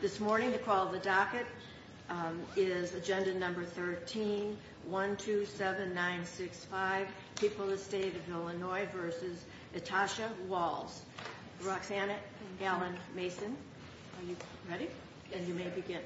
This morning to call the docket is agenda number 13127965 people the state of Illinois versus Natasha Walls. Roxanna Gallen Mason. Are you ready? And you may begin.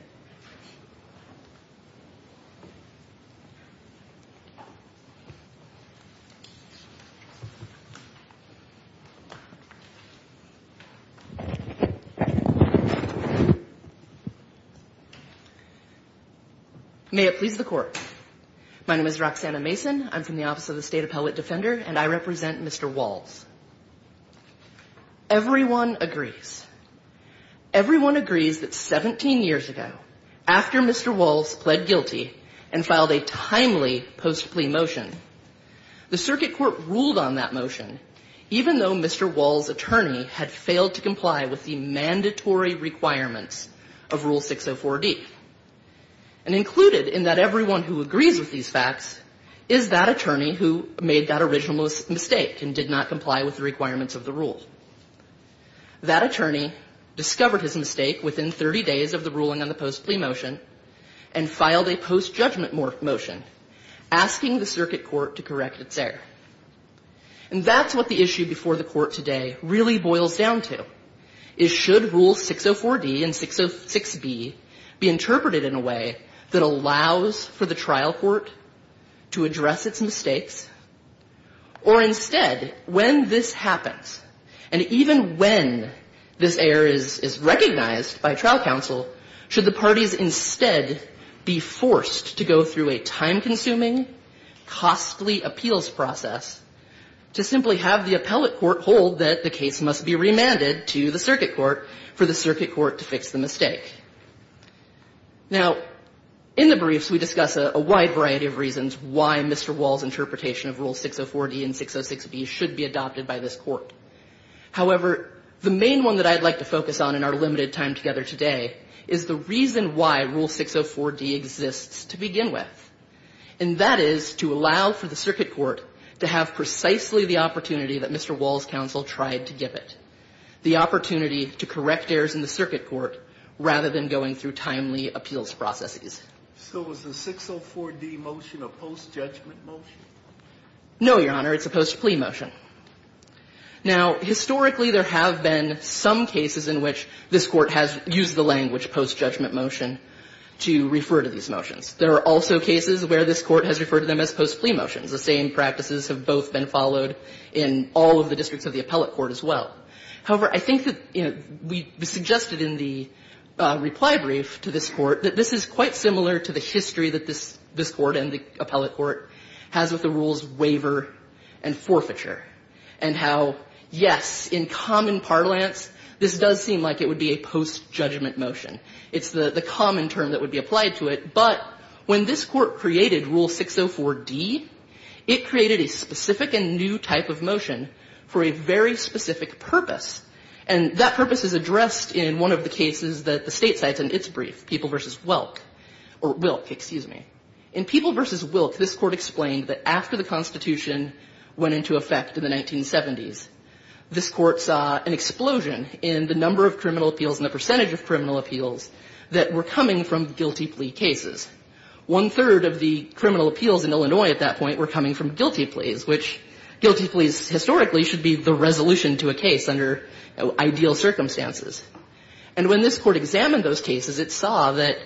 May it please the court. My name is Roxanna Mason. I'm from the Office of the State Appellate Defender and I represent Mr. Walls. Everyone agrees. Everyone agrees that 17 years ago, after Mr. Walls pled guilty and filed a timely post-plea motion, the circuit court ruled on that motion, even though Mr. Walls' attorney had failed to comply with the mandatory requirements of Rule 604D. And included in that everyone who agrees with these facts is that attorney who made that original mistake and did not comply with the requirements of the rule. That attorney discovered his mistake within 30 days of the ruling on the post-plea motion and filed a post-judgment motion asking the circuit court to correct its error. And that's what the issue before the court today really boils down to. Is should Rule 604D and 606B be interpreted in a way that allows for the trial court to address its mistakes? Or instead, when this happens, and even when this error is recognized by trial counsel, should the parties instead be forced to go through a time-consuming, costly appeals process to simply have the appellate court hold that the case must be remanded to the circuit court for the circuit court to fix the mistake? Now, in the briefs we discuss a wide variety of reasons why Mr. Walls' interpretation of Rule 604D and 606B should be adopted by this Court. However, the main one that I'd like to focus on in our limited time together today is the reason why Rule 604D exists to begin with. And that is to allow for the circuit court to have precisely the opportunity that Mr. Walls' counsel tried to give it. The opportunity to correct errors in the circuit court rather than going through timely appeals processes. So is the 604D motion a post-judgment motion? No, Your Honor. It's a post-plea motion. Now, historically, there have been some cases in which this Court has used the language post-judgment motion to refer to these motions. There are also cases where this Court has referred to them as post-plea motions. The same practices have both been followed in all of the districts of the appellate court as well. However, I think that, you know, we suggested in the reply brief to this Court that this is quite similar to the history that this Court and the appellate court has with the rules waiver and forfeiture and how, yes, in common parlance, this does seem like it would be a post-judgment motion. It's the common term that would be applied to it. But when this Court created Rule 604D, it created a specific and new type of motion for a very specific purpose. And that purpose is addressed in one of the cases that the State cites in its brief, People v. Wilk. In People v. Wilk, this Court explained that after the Constitution went into effect in the 1970s, this Court saw an explosion in the number of criminal appeals and the percentage of criminal appeals that were coming from guilty plea cases. One-third of the criminal appeals in Illinois at that point were coming from guilty to a case under ideal circumstances. And when this Court examined those cases, it saw that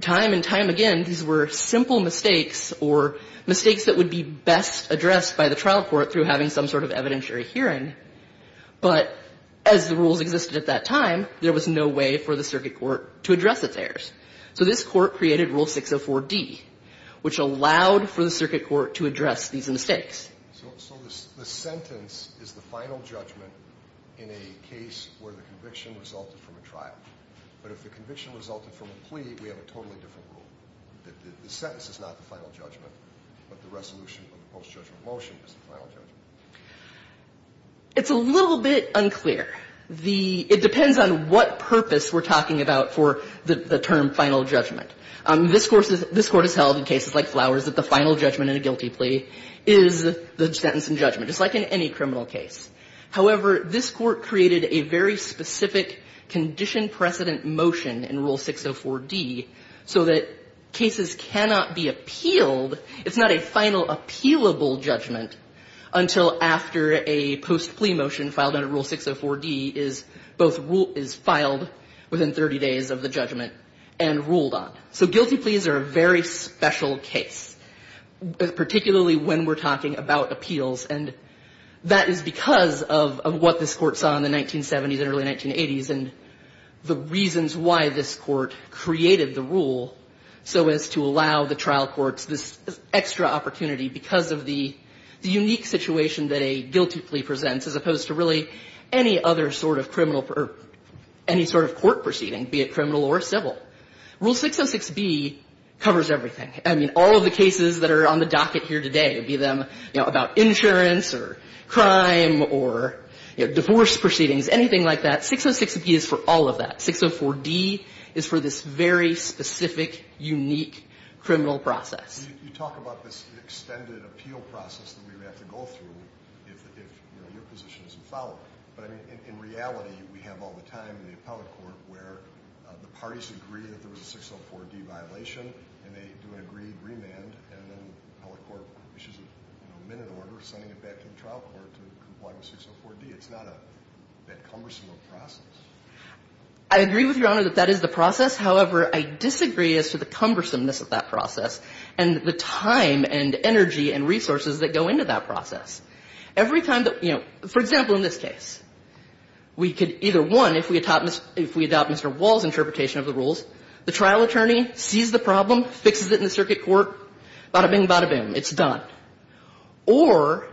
time and time again these were simple mistakes or mistakes that would be best addressed by the trial court through having some sort of evidentiary hearing. But as the rules existed at that time, there was no way for the circuit court to address its errors. So this Court created Rule 604D, which allowed for the circuit court to address these mistakes. So the sentence is the final judgment in a case where the conviction resulted from a trial. But if the conviction resulted from a plea, we have a totally different rule. The sentence is not the final judgment, but the resolution of the post-judgment motion is the final judgment. It's a little bit unclear. It depends on what purpose we're talking about for the term final judgment. This Court has held in cases like Flowers that the final judgment in a guilty plea is the sentence and judgment, just like in any criminal case. However, this Court created a very specific condition precedent motion in Rule 604D so that cases cannot be appealed. It's not a final appealable judgment until after a post-plea motion filed under Rule 604D is both filed within 30 days of the judgment and ruled on. So guilty pleas are a very special case, particularly when we're talking about appeals. And that is because of what this Court saw in the 1970s and early 1980s and the reasons why this Court created the rule so as to allow the trial courts this extra opportunity because of the unique situation that a guilty plea presents as opposed to really any other sort of criminal or any sort of court proceeding, be it criminal or civil. Rule 606B covers everything. I mean, all of the cases that are on the docket here today, be them, you know, about insurance or crime or, you know, divorce proceedings, anything like that, 606B is for all of that. 604D is for this very specific, unique criminal process. You talk about this extended appeal process that we would have to go through if, you know, your position isn't followed. But, I mean, in reality, we have all the time in the appellate court where the parties agree that there was a 604D violation, and they do an agreed remand, and then the appellate court issues a minute order sending it back to the trial court to comply with 604D. It's not that cumbersome of a process. I agree with Your Honor that that is the process. However, I disagree as to the cumbersomeness of that process and the time and energy and resources that go into that process. Every time that, you know, for example, in this case, we could either, one, if we adopt Mr. Wall's interpretation of the rules, the trial attorney sees the problem, fixes it in the circuit court, bada-bing, bada-boom, it's done. Or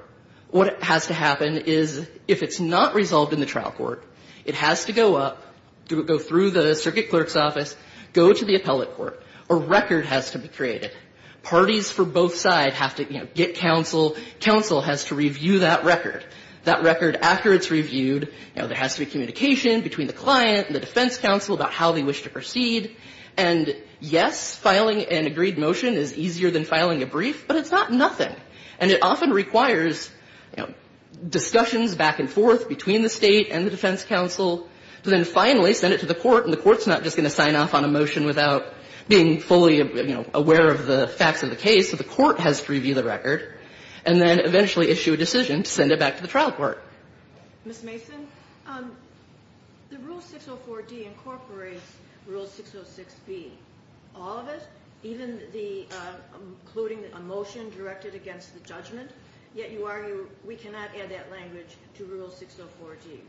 what has to happen is, if it's not resolved in the trial court, it has to go up, go through the circuit clerk's office, go to the appellate court. A record has to be created. Parties for both sides have to, you know, get counsel. Counsel has to review that record. That record, after it's reviewed, you know, there has to be communication between the client and the defense counsel about how they wish to proceed. And, yes, filing an agreed motion is easier than filing a brief, but it's not nothing. And it often requires, you know, discussions back and forth between the State and the defense counsel to then finally send it to the court. And the court's not just going to sign off on a motion without being fully, you know, aware of the facts of the case. So the court has to review the record and then eventually issue a decision to send it back to the trial court. Ms. Mason, the Rule 604d incorporates Rule 606b. All of it, even the including a motion directed against the judgment, yet you argue we cannot add that language to Rule 604d.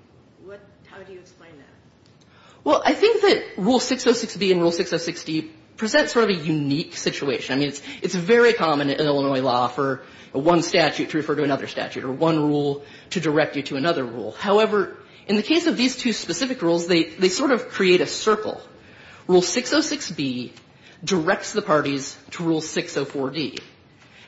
What do you explain that? Well, I think that Rule 606b and Rule 606d present sort of a unique situation. I mean, it's very common in Illinois law for one statute to refer to another statute or one rule to direct you to another rule. However, in the case of these two specific rules, they sort of create a circle. Rule 606b directs the parties to Rule 604d.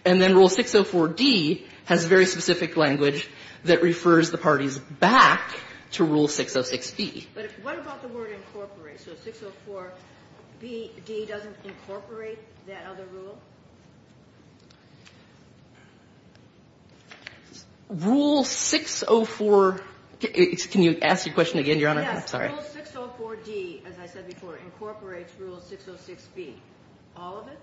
And then Rule 604d has very specific language that refers the parties back to Rule 606b. But what about the word incorporate? So 604d doesn't incorporate that other rule? Rule 604. Can you ask your question again, Your Honor? Yes. Rule 604d, as I said before, incorporates Rule 606b. All of it?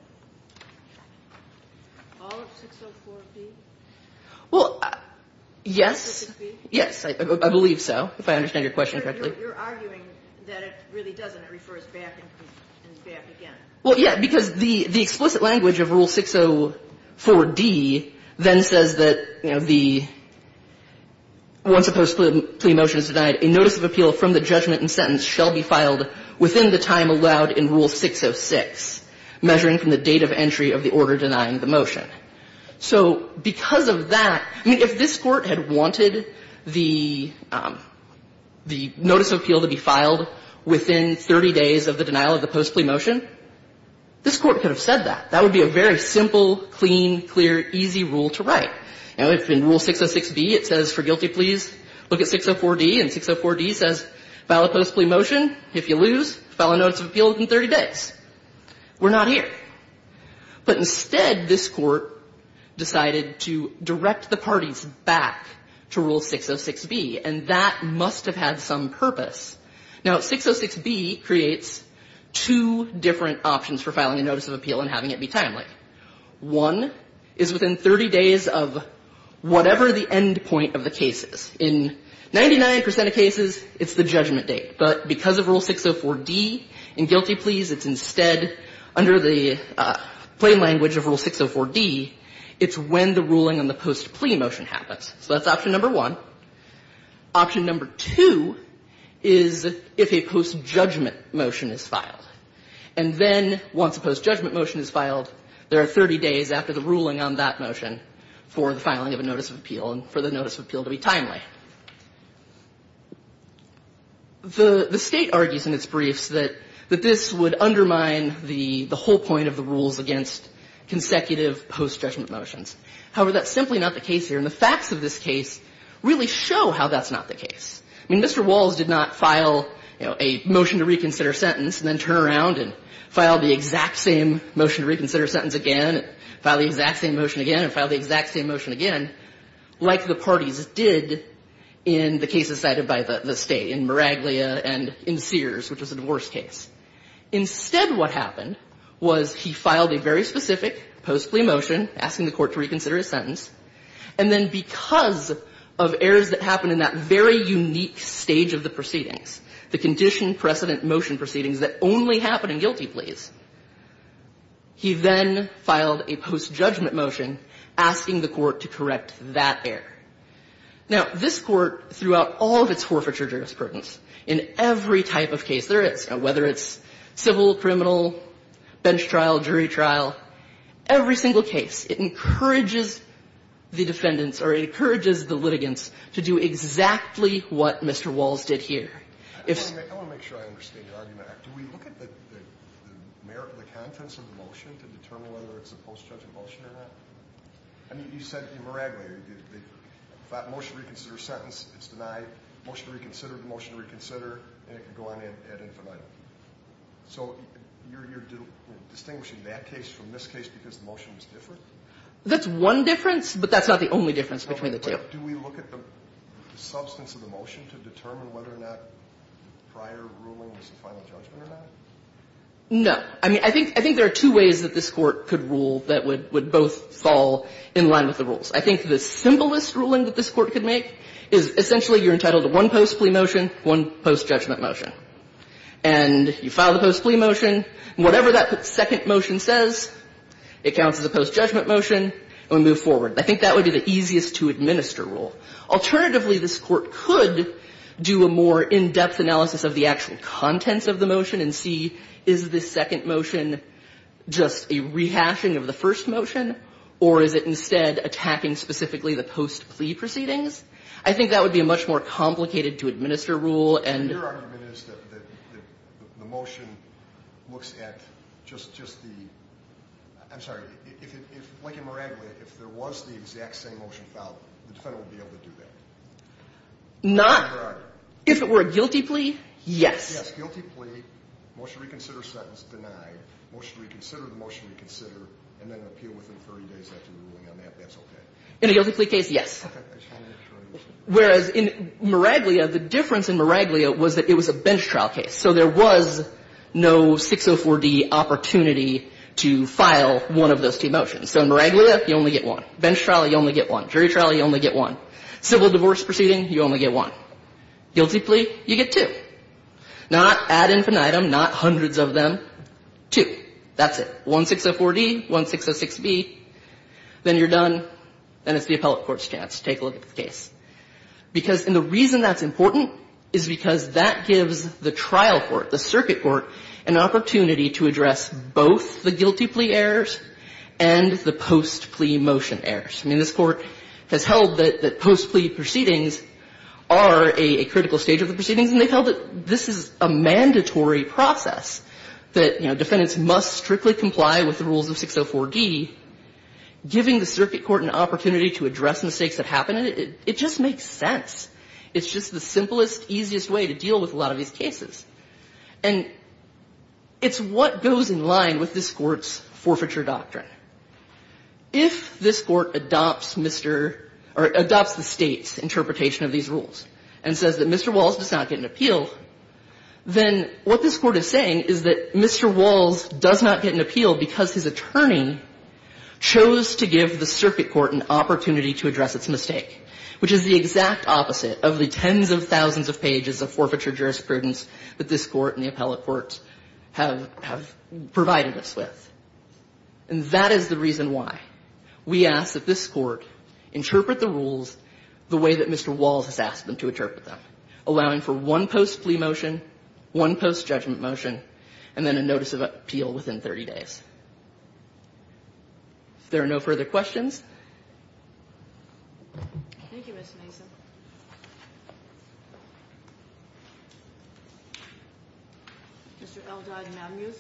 All of 604d? Well, yes. 606b? Yes, I believe so, if I understand your question correctly. You're arguing that it really doesn't. It refers back and back again. Well, yes, because the explicit language of Rule 604d then says that, you know, the once a post-plea motion is denied, a notice of appeal from the judgment and sentence shall be filed within the time allowed in Rule 606, measuring So because of that, I mean, if this Court had wanted the notice of appeal to be filed within 30 days of the denial of the post-plea motion, this Court could have said that. That would be a very simple, clean, clear, easy rule to write. You know, if in Rule 606b it says for guilty pleas, look at 604d, and 604d says file a post-plea motion. If you lose, file a notice of appeal within 30 days. We're not here. But instead, this Court decided to direct the parties back to Rule 606b. And that must have had some purpose. Now, 606b creates two different options for filing a notice of appeal and having it be timely. One is within 30 days of whatever the end point of the case is. In 99 percent of cases, it's the judgment date. But because of Rule 604d, in guilty pleas, it's instead, under the plain language of Rule 604d, it's when the ruling on the post-plea motion happens. So that's option number one. Option number two is if a post-judgment motion is filed. And then, once a post-judgment motion is filed, there are 30 days after the ruling on that motion for the filing of a notice of appeal and for the notice of appeal to be timely. The State argues in its briefs that this would undermine the whole point of the rules against consecutive post-judgment motions. However, that's simply not the case here. And the facts of this case really show how that's not the case. I mean, Mr. Walls did not file a motion to reconsider sentence and then turn around and file the exact same motion to reconsider sentence again, file the exact same motion again, and file the exact same motion again. Like the parties did in the cases cited by the State, in Miraglia and in Sears, which was a divorce case. Instead, what happened was he filed a very specific post-plea motion asking the court to reconsider his sentence. And then, because of errors that happened in that very unique stage of the proceedings, the condition precedent motion proceedings that only happen in guilty pleas, he then filed a post-judgment motion asking the court to correct that error. Now, this Court, throughout all of its forfeiture jurisprudence, in every type of case there is, whether it's civil, criminal, bench trial, jury trial, every single case, it encourages the defendants or it encourages the litigants to do exactly what Mr. Walls did here. I want to make sure I understand your argument. Do we look at the contents of the motion to determine whether it's a post-judgment motion or not? I mean, you said in Miraglia, if that motion to reconsider sentence is denied, motion to reconsider, motion to reconsider, and it can go on ad infinitum. So you're distinguishing that case from this case because the motion is different? That's one difference, but that's not the only difference between the two. Do we look at the substance of the motion to determine whether or not prior ruling is a final judgment or not? No. I mean, I think there are two ways that this Court could rule that would both fall in line with the rules. I think the simplest ruling that this Court could make is essentially you're entitled to one post-plea motion, one post-judgment motion. And you file the post-plea motion, and whatever that second motion says, it counts as a post-judgment motion, and we move forward. I think that would be the easiest-to-administer rule. Alternatively, this Court could do a more in-depth analysis of the actual contents of the motion and see, is this second motion just a rehashing of the first motion, or is it instead attacking specifically the post-plea proceedings? I think that would be a much more complicated-to-administer rule. And your argument is that the motion looks at just the – I'm sorry. If, like in Miraglia, if there was the exact same motion filed, the defendant would be able to do that? Not. In Miraglia. If it were a guilty plea, yes. Yes, guilty plea, motion to reconsider sentence denied, motion to reconsider the motion to reconsider, and then appeal within 30 days after the ruling on that, that's okay? In a guilty plea case, yes. Okay. Whereas in Miraglia, the difference in Miraglia was that it was a bench trial case, so there was no 604D opportunity to file one of those two motions. So in Miraglia, you only get one. Bench trial, you only get one. Jury trial, you only get one. Civil divorce proceeding, you only get one. Guilty plea, you get two. Not ad infinitum, not hundreds of them, two. That's it. One 604D, one 606B. Then you're done, and it's the appellate court's chance. It's the appellate court's chance to take a look at the case. Because the reason that's important is because that gives the trial court, the circuit court, an opportunity to address both the guilty plea errors and the post-plea motion errors. I mean, this Court has held that post-plea proceedings are a critical stage of the proceedings, and they've held that this is a mandatory process, that, you know, defendants must strictly comply with the rules of 604D, giving the circuit court an opportunity to address mistakes that happen in it. It just makes sense. It's just the simplest, easiest way to deal with a lot of these cases. And it's what goes in line with this Court's forfeiture doctrine. If this Court adopts Mr. or adopts the State's interpretation of these rules and says that Mr. Walls does not get an appeal, then what this Court is saying is that Mr. Walls, as an attorney, chose to give the circuit court an opportunity to address its mistake, which is the exact opposite of the tens of thousands of pages of forfeiture jurisprudence that this Court and the appellate courts have provided us with. And that is the reason why we ask that this Court interpret the rules the way that Mr. Walls has asked them to interpret them, allowing for one post-plea motion, one post-judgment motion, and then a notice of appeal within 30 days. If there are no further questions. Thank you, Ms. Nason. Mr. Eldrige-Mamuth.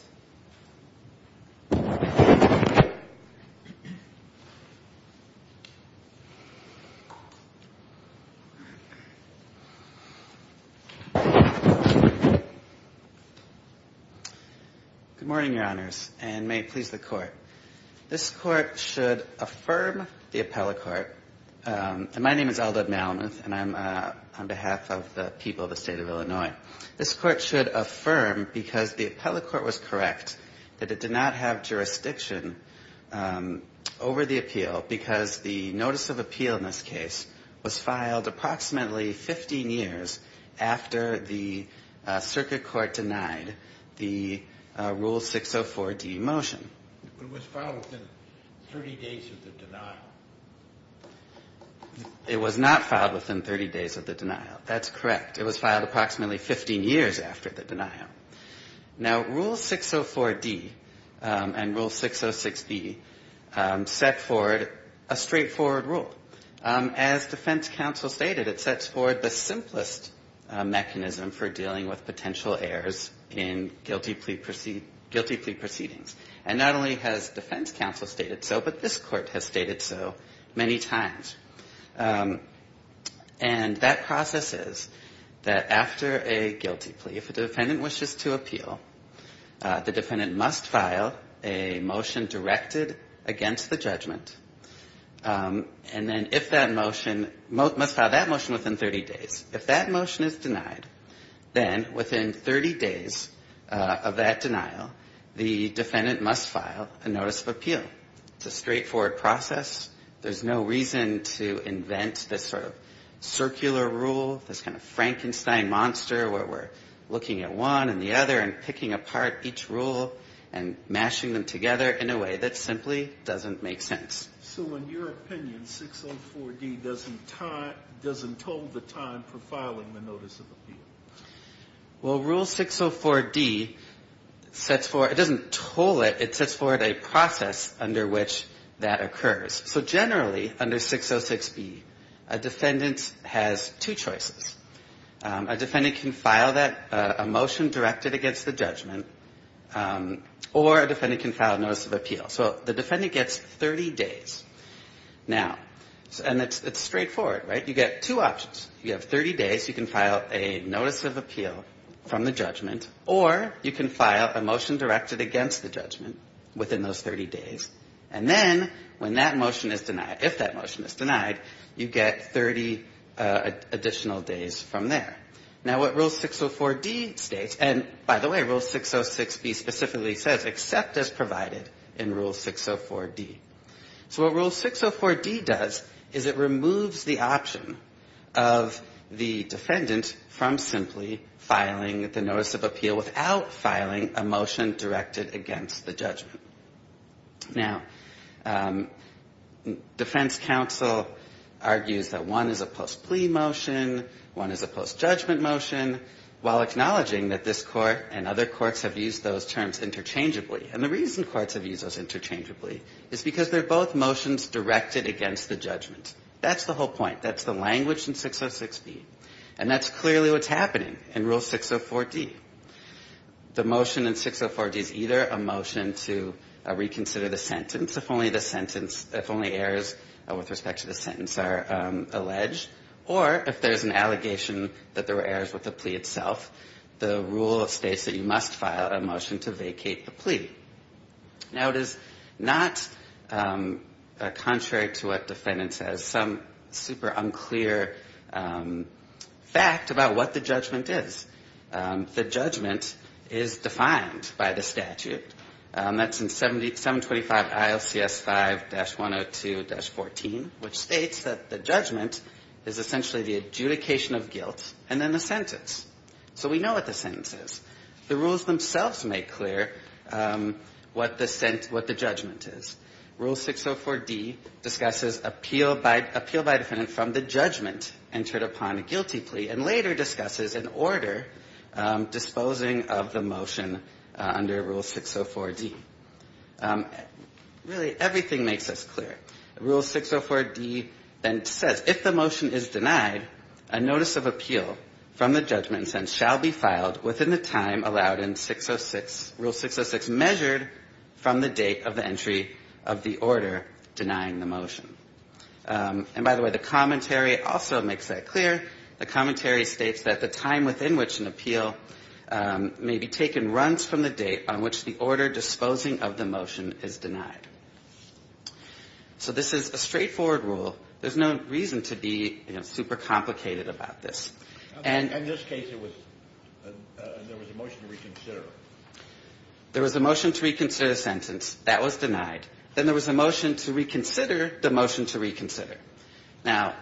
Good morning, Your Honors, and may it please the Court. This Court should affirm the appellate court, and my name is Eldrige-Mamuth, and I'm on behalf of the people of the State of Illinois. This Court should affirm, because the appellate court was correct, that it did not have jurisdiction over the appeal because the notice of appeal in this case was filed approximately 15 years after the circuit court denied the Rule 604D motion. It was filed within 30 days of the denial. It was not filed within 30 days of the denial. That's correct. It was filed approximately 15 years after the denial. Now, Rule 604D and Rule 606B set forward a straightforward rule. As defense counsel stated, it sets forward the simplest mechanism for dealing with potential errors in guilty plea proceedings. And not only has defense counsel stated so, but this Court has stated so many times. And that process is that after a guilty plea, if a defendant wishes to appeal, the defendant must file a motion directed against the judgment, and then if that motion must file that motion within 30 days. If that motion is denied, then within 30 days of that denial, the defendant must file a notice of appeal. It's a straightforward process. There's no reason to invent this sort of circular rule, this kind of Frankenstein monster where we're looking at one and the other and picking apart each rule and mashing them together in a way that simply doesn't make sense. So in your opinion, 604D doesn't toll the time for filing the notice of appeal? Well, Rule 604D doesn't toll it. It sets forward a process under which that occurs. So generally, under 606B, a defendant has two choices. A defendant can file a motion directed against the judgment, or a defendant can file a notice of appeal. So the defendant gets 30 days. Now, and it's straightforward, right? You get two options. You have 30 days. You can file a notice of appeal from the judgment, or you can file a motion directed against the judgment within those 30 days. And then when that motion is denied, if that motion is denied, you get 30 additional days from there. Now, what Rule 604D states, and by the way, Rule 606B specifically says, accept as provided in Rule 604D. So what Rule 604D does is it removes the option of the defendant from simply filing the notice of appeal without filing a motion directed against the judgment. Now, defense counsel argues that one is a post-plea motion, one is a post-judgment motion, while acknowledging that this Court and other courts have used those terms interchangeably. And the reason courts have used those interchangeably is because they're both motions directed against the judgment. That's the whole point. That's the language in 606B. And that's clearly what's happening in Rule 604D. The motion in 604D is either a motion to reconsider the sentence if only errors with respect to the sentence are alleged, or if there's an allegation that there were errors with the plea itself, the rule states that you must file a motion to vacate the plea. Now, it is not contrary to what the defendant says, some super unclear fact about what the judgment is. The judgment is defined by the statute. That's in 725 ILCS 5-102-14, which states that the judgment is essentially the adjudication of guilt and then the sentence. So we know what the sentence is. The rules themselves make clear what the judgment is. Rule 604D discusses appeal by defendant from the judgment entered upon a guilty plea and later discusses an order disposing of the motion under Rule 604D. Really, everything makes this clear. Rule 604D then says, if the motion is denied, a notice of appeal from the judgment and sentence shall be filed within the time allowed in 606, Rule 606 measured from the date of the entry of the order denying the motion. And by the way, the commentary also makes that clear. The commentary states that the time within which an appeal may be taken runs from the date on which the order disposing of the motion is denied. So this is a straightforward rule. There's no reason to be, you know, super complicated about this. And in this case, it was the motion to reconsider. There was a motion to reconsider the sentence. That was denied. Then there was a motion to reconsider the motion to reconsider. Now,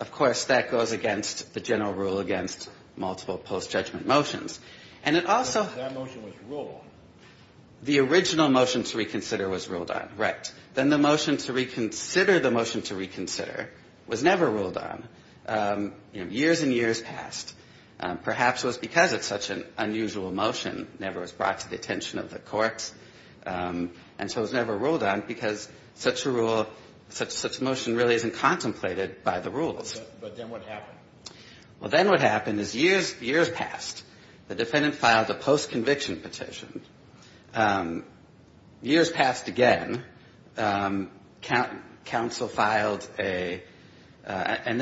of course, that goes against the general rule against multiple post-judgment motions. And it also has to do with the original motion to reconsider was ruled on. Right. Then the motion to reconsider the motion to reconsider was never ruled on. Years and years passed. Perhaps it was because it's such an unusual motion, never was brought to the attention of the courts, and so it was never ruled on because such a rule, such a motion really isn't contemplated by the rules. But then what happened? Well, then what happened is years, years passed. The defendant filed a post-conviction petition. Years passed again. Counsel filed a — and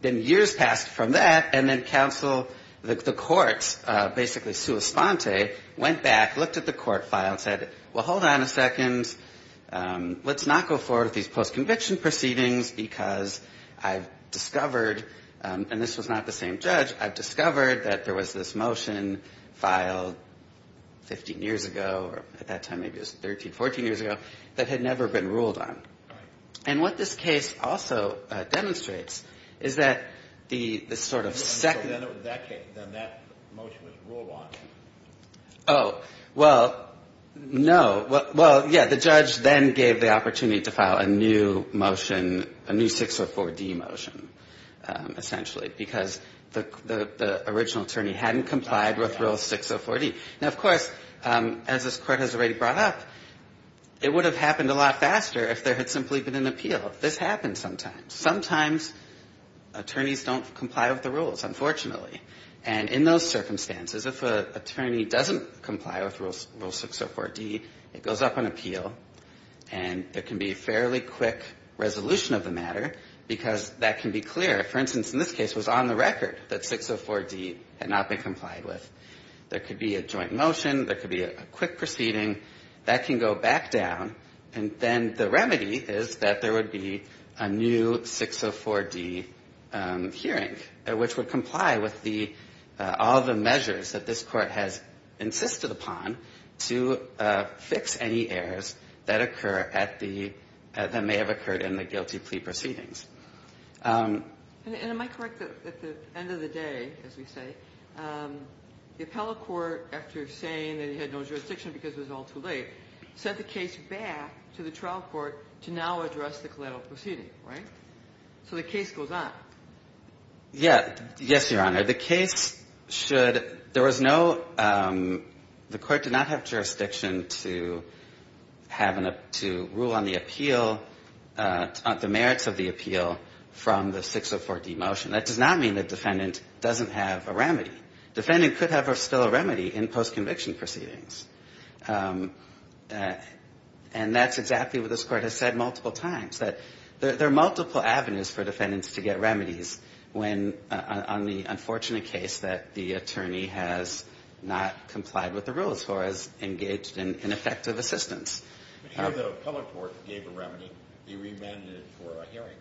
then years passed from that, and then counsel, the courts, basically sua sponte, went back, looked at the court file and said, well, hold on a second. Let's not go forward with these post-conviction proceedings because I've discovered — and this was not the same judge — I've discovered that there was this motion filed 15 years ago, or at that time maybe it was 13, 14 years ago, that had never been ruled on. Right. And what this case also demonstrates is that the sort of second — So then that motion was ruled on? Oh. Well, no. Well, yeah. The judge then gave the opportunity to file a new motion, a new 604D motion, essentially, because the original attorney hadn't complied with Rule 604D. Now, of course, as this Court has already brought up, it would have happened a lot faster if there had simply been an appeal. This happens sometimes. Sometimes attorneys don't comply with the rules, unfortunately. And in those circumstances, if an attorney doesn't comply with Rule 604D, it goes up on appeal, and there can be a fairly quick resolution of the matter because that can be clear. For instance, in this case, it was on the record that 604D had not been complied with. There could be a joint motion. There could be a quick proceeding. That can go back down, and then the remedy is that there would be a new 604D hearing which would comply with all the measures that this Court has insisted upon to fix any errors that may have occurred in the guilty plea proceedings. And am I correct that at the end of the day, as we say, the appellate court, after saying that he had no jurisdiction because it was all too late, sent the case back to the trial court to now address the collateral proceeding, right? So the case goes on. Yeah. Yes, Your Honor. The case should – there was no – the Court did not have jurisdiction to have an – to rule on the appeal, the merits of the appeal from the 604D motion. That does not mean the defendant doesn't have a remedy. Defendant could have still a remedy in post-conviction proceedings. And that's exactly what this Court has said multiple times, that there are multiple avenues for defendants to get remedies when – on the unfortunate case that the attorney has not complied with the rules or has engaged in ineffective assistance. But here the appellate court gave a remedy. He remanded for a hearing.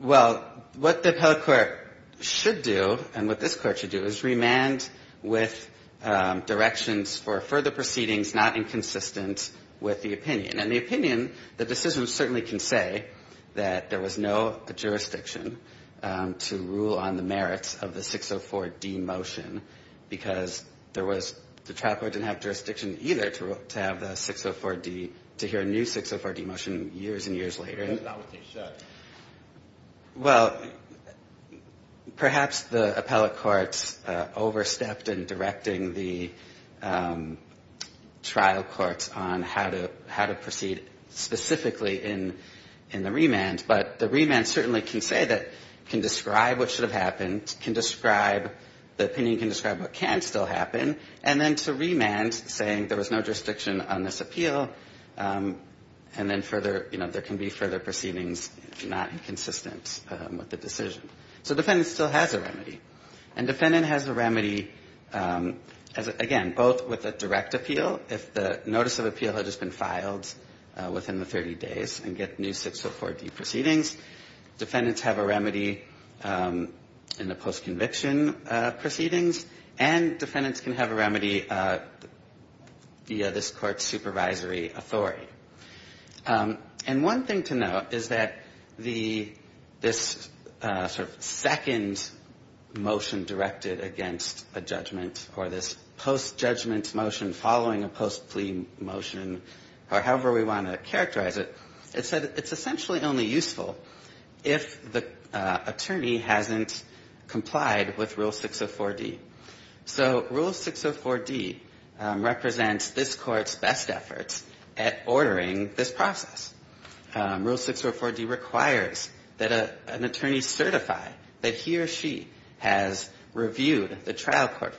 Well, what the appellate court should do and what this Court should do is remand with directions for further proceedings not inconsistent with the opinion. And the opinion – the decision certainly can say that there was no jurisdiction to rule on the merits of the 604D motion because there was – the trial court didn't have jurisdiction either to have the 604D – to hear a new 604D motion years and years later. That's not what they should. Well, perhaps the appellate court overstepped in directing the trial court on how to proceed specifically in the remand, but the remand certainly can say that – can describe what should have happened, can describe – the opinion can describe what can still happen, and then to remand saying there was no jurisdiction on this appeal, and then further – you know, there can be further proceedings not inconsistent with the decision. So defendant still has a remedy. And defendant has a remedy, again, both with a direct appeal, if the notice of appeal has just been filed within the 30 days and get new 604D proceedings. Defendants have a remedy in the post-conviction proceedings, and defendants can have a remedy via this Court's supervisory authority. And one thing to note is that the – this sort of second motion directed against a judgment or this post-judgment motion following a post-plea motion, or however we want to characterize it, it said it's essentially only useful if the attorney hasn't complied with Rule 604D. So Rule 604D represents this Court's best efforts at ordering this process. Rule 604D requires that an attorney certify that he or she has reviewed the trial court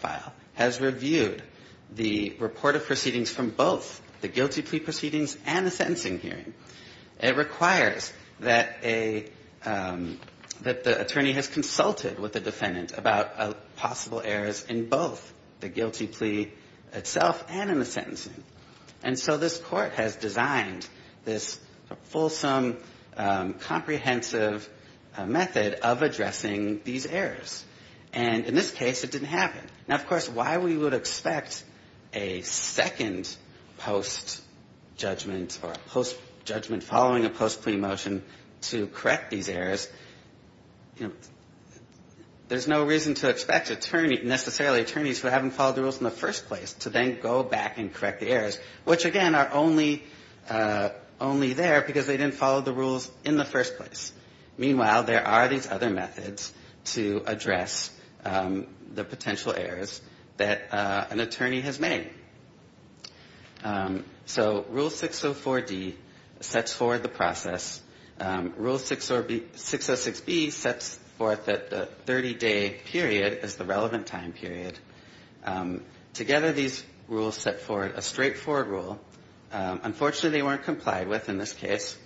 proceedings from both the guilty plea proceedings and the sentencing hearing. It requires that a – that the attorney has consulted with the defendant about possible errors in both the guilty plea itself and in the sentencing. And so this Court has designed this fulsome, comprehensive method of addressing these errors, and in this case, it didn't happen. Now, of course, why we would expect a second post-judgment or a post-judgment following a post-plea motion to correct these errors, you know, there's no reason to expect attorney – necessarily attorneys who haven't followed the rules in the first place to then go back and correct the errors, which, again, are only there because they didn't follow the rules in the first place. Meanwhile, there are these other methods to address the potential errors that an attorney has made. So Rule 604D sets forward the process. Rule 606B sets forth that the 30-day period is the relevant time period. Together, these rules set forward a straightforward rule. Unfortunately, they weren't complied with in this case,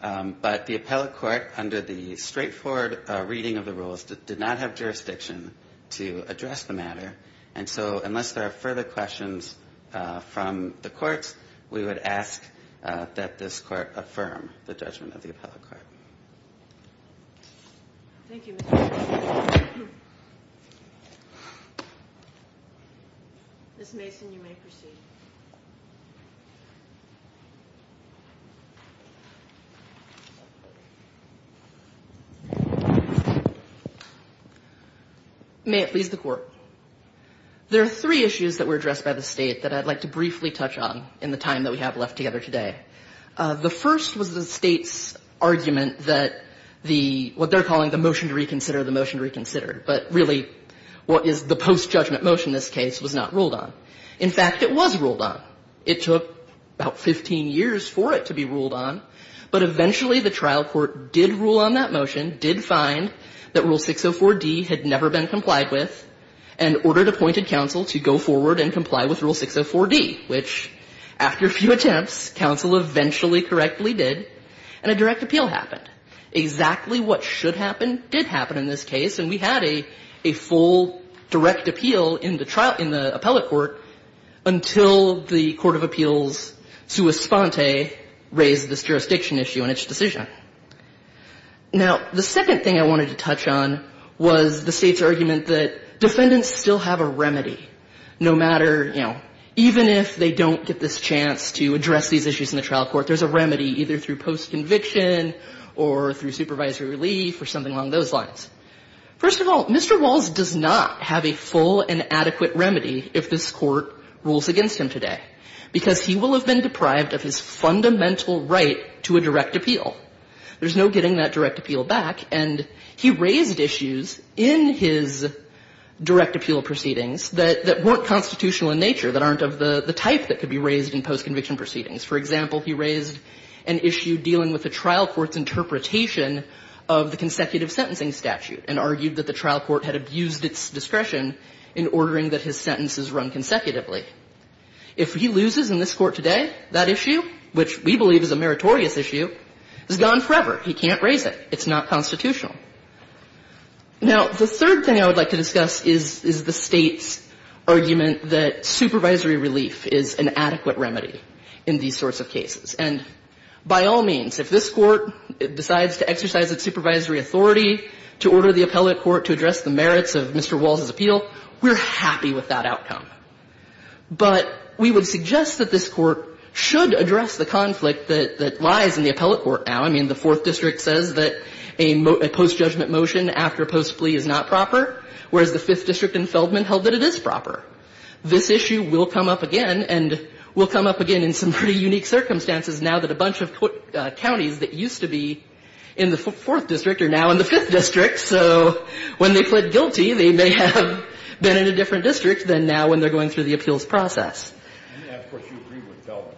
but the appellate court, under the straightforward reading of the rules, did not have jurisdiction to address the matter. And so unless there are further questions from the courts, we would ask that this Court affirm the judgment of the appellate court. Ms. Mason, you may proceed. May it please the Court. There are three issues that were addressed by the State that I'd like to briefly touch on in the time that we have left together today. The first was the State's argument that the – what they're calling the motion to reconsider the motion to reconsider, but really what is the post-judgment motion in this case was not ruled on. In fact, it was ruled on. It took about 15 years for it to be ruled on, but eventually the trial court did rule on that motion, did find that Rule 604D had never been complied with, and ordered appointed counsel to go forward and comply with Rule 604D, which, after a few attempts, counsel eventually correctly did, and a direct appeal happened. Exactly what should happen did happen in this case, and we had a full direct appeal in the trial – in the appellate court until the Court of Appeals' sua sponte raised this jurisdiction issue in its decision. Now, the second thing I wanted to touch on was the State's argument that defendants still have a remedy, no matter – you know, even if they don't get this chance to address these issues in the trial court, there's a remedy either through post-conviction or through supervisory relief or something along those lines. First of all, Mr. Walls does not have a full and adequate remedy if this Court rules against him today, because he will have been deprived of his fundamental right to a direct appeal. There's no getting that direct appeal back, and he raised issues in his direct appeal proceedings that weren't constitutional in nature, that aren't of the type that could be raised in post-conviction proceedings. For example, he raised an issue dealing with the trial court's interpretation of the consecutive sentencing statute and argued that the trial court had abused its discretion in ordering that his sentences run consecutively. If he loses in this court today, that issue, which we believe is a meritorious issue, is gone forever. He can't raise it. It's not constitutional. Now, the third thing I would like to discuss is the State's argument that supervisory relief is an adequate remedy in these sorts of cases. And by all means, if this Court decides to exercise its supervisory authority to order the appellate court to address the merits of Mr. Walls' appeal, we're happy with that outcome. But we would suggest that this Court should address the conflict that lies in the appellate court now. I mean, the Fourth District says that a post-judgment motion after a post plea is not proper, whereas the Fifth District in Feldman held that it is proper. This issue will come up again and will come up again in some pretty unique circumstances now that a bunch of counties that used to be in the Fourth District are now in the Fifth District. So when they plead guilty, they may have been in a different district than now when they're going through the appeals process. And, of course, you agree with Feldman.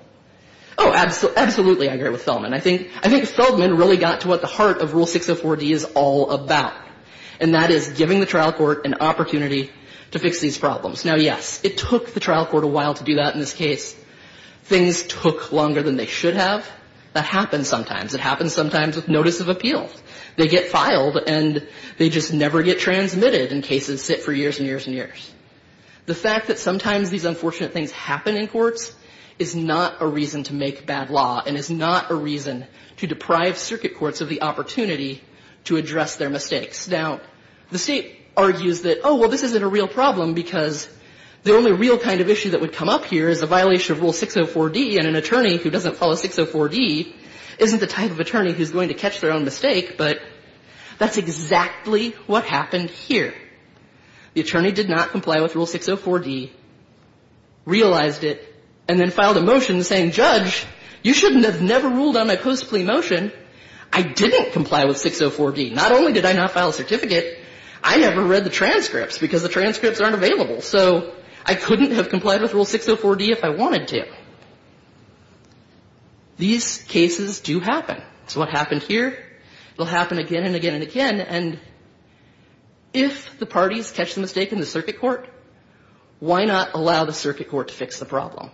Oh, absolutely. I agree with Feldman. I think Feldman really got to what the heart of Rule 604D is all about, and that is giving the trial court an opportunity to fix these problems. Now, yes, it took the trial court a while to do that in this case. Things took longer than they should have. That happens sometimes. It happens sometimes with notice of appeal. They get filed, and they just never get transmitted in cases that sit for years and years and years. The fact that sometimes these unfortunate things happen in courts is not a reason to make bad law and is not a reason to deprive circuit courts of the opportunity to address their mistakes. Now, the State argues that, oh, well, this isn't a real problem because the only real kind of issue that would come up here is a violation of Rule 604D, and an attorney who doesn't follow 604D isn't the type of attorney who's going to catch their own mistake, but that's exactly what happened here. The attorney did not comply with Rule 604D, realized it, and then filed a motion saying, Judge, you shouldn't have never ruled on a post-plea motion. I didn't comply with 604D. Not only did I not file a certificate, I never read the transcripts because the transcripts aren't available. So I couldn't have complied with Rule 604D if I wanted to. These cases do happen. It's what happened here. It will happen again and again and again. And if the parties catch the mistake in the circuit court, why not allow the circuit court to fix the problem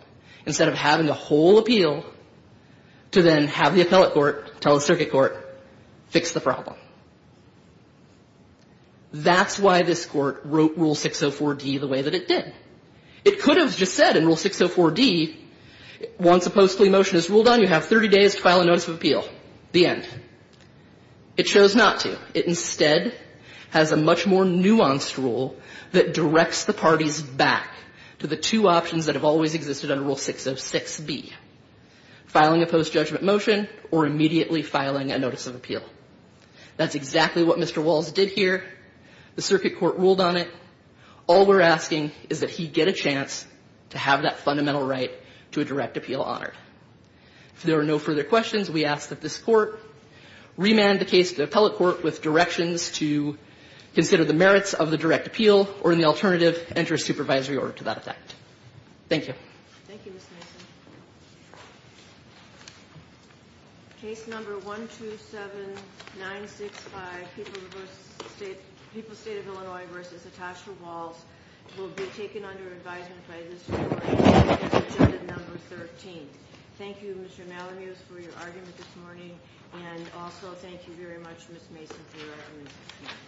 instead of having the whole appeal to then have the appellate court tell the circuit court, fix the problem? That's why this Court wrote Rule 604D the way that it did. It could have just said in Rule 604D, once a post-plea motion is ruled on, you have 30 days to file a notice of appeal. The end. It chose not to. It instead has a much more nuanced rule that directs the parties back to the two options that have always existed under Rule 606B, filing a post-judgment motion or immediately filing a notice of appeal. That's exactly what Mr. Walls did here. The circuit court ruled on it. All we're asking is that he get a chance to have that fundamental right to a direct appeal honored. If there are no further questions, we ask that this Court remand the case to the appellate court with directions to consider the merits of the direct appeal or, in the alternative, enter a supervisory order to that effect. Thank you. Thank you, Ms. Mason. Case number 127965, People's State of Illinois v. Natasha Walls, will be taken under advisement by this Court. It's agenda number 13. Thank you, Mr. Malamuse, for your argument this morning, and also thank you very much, Ms. Mason, for your arguments this morning.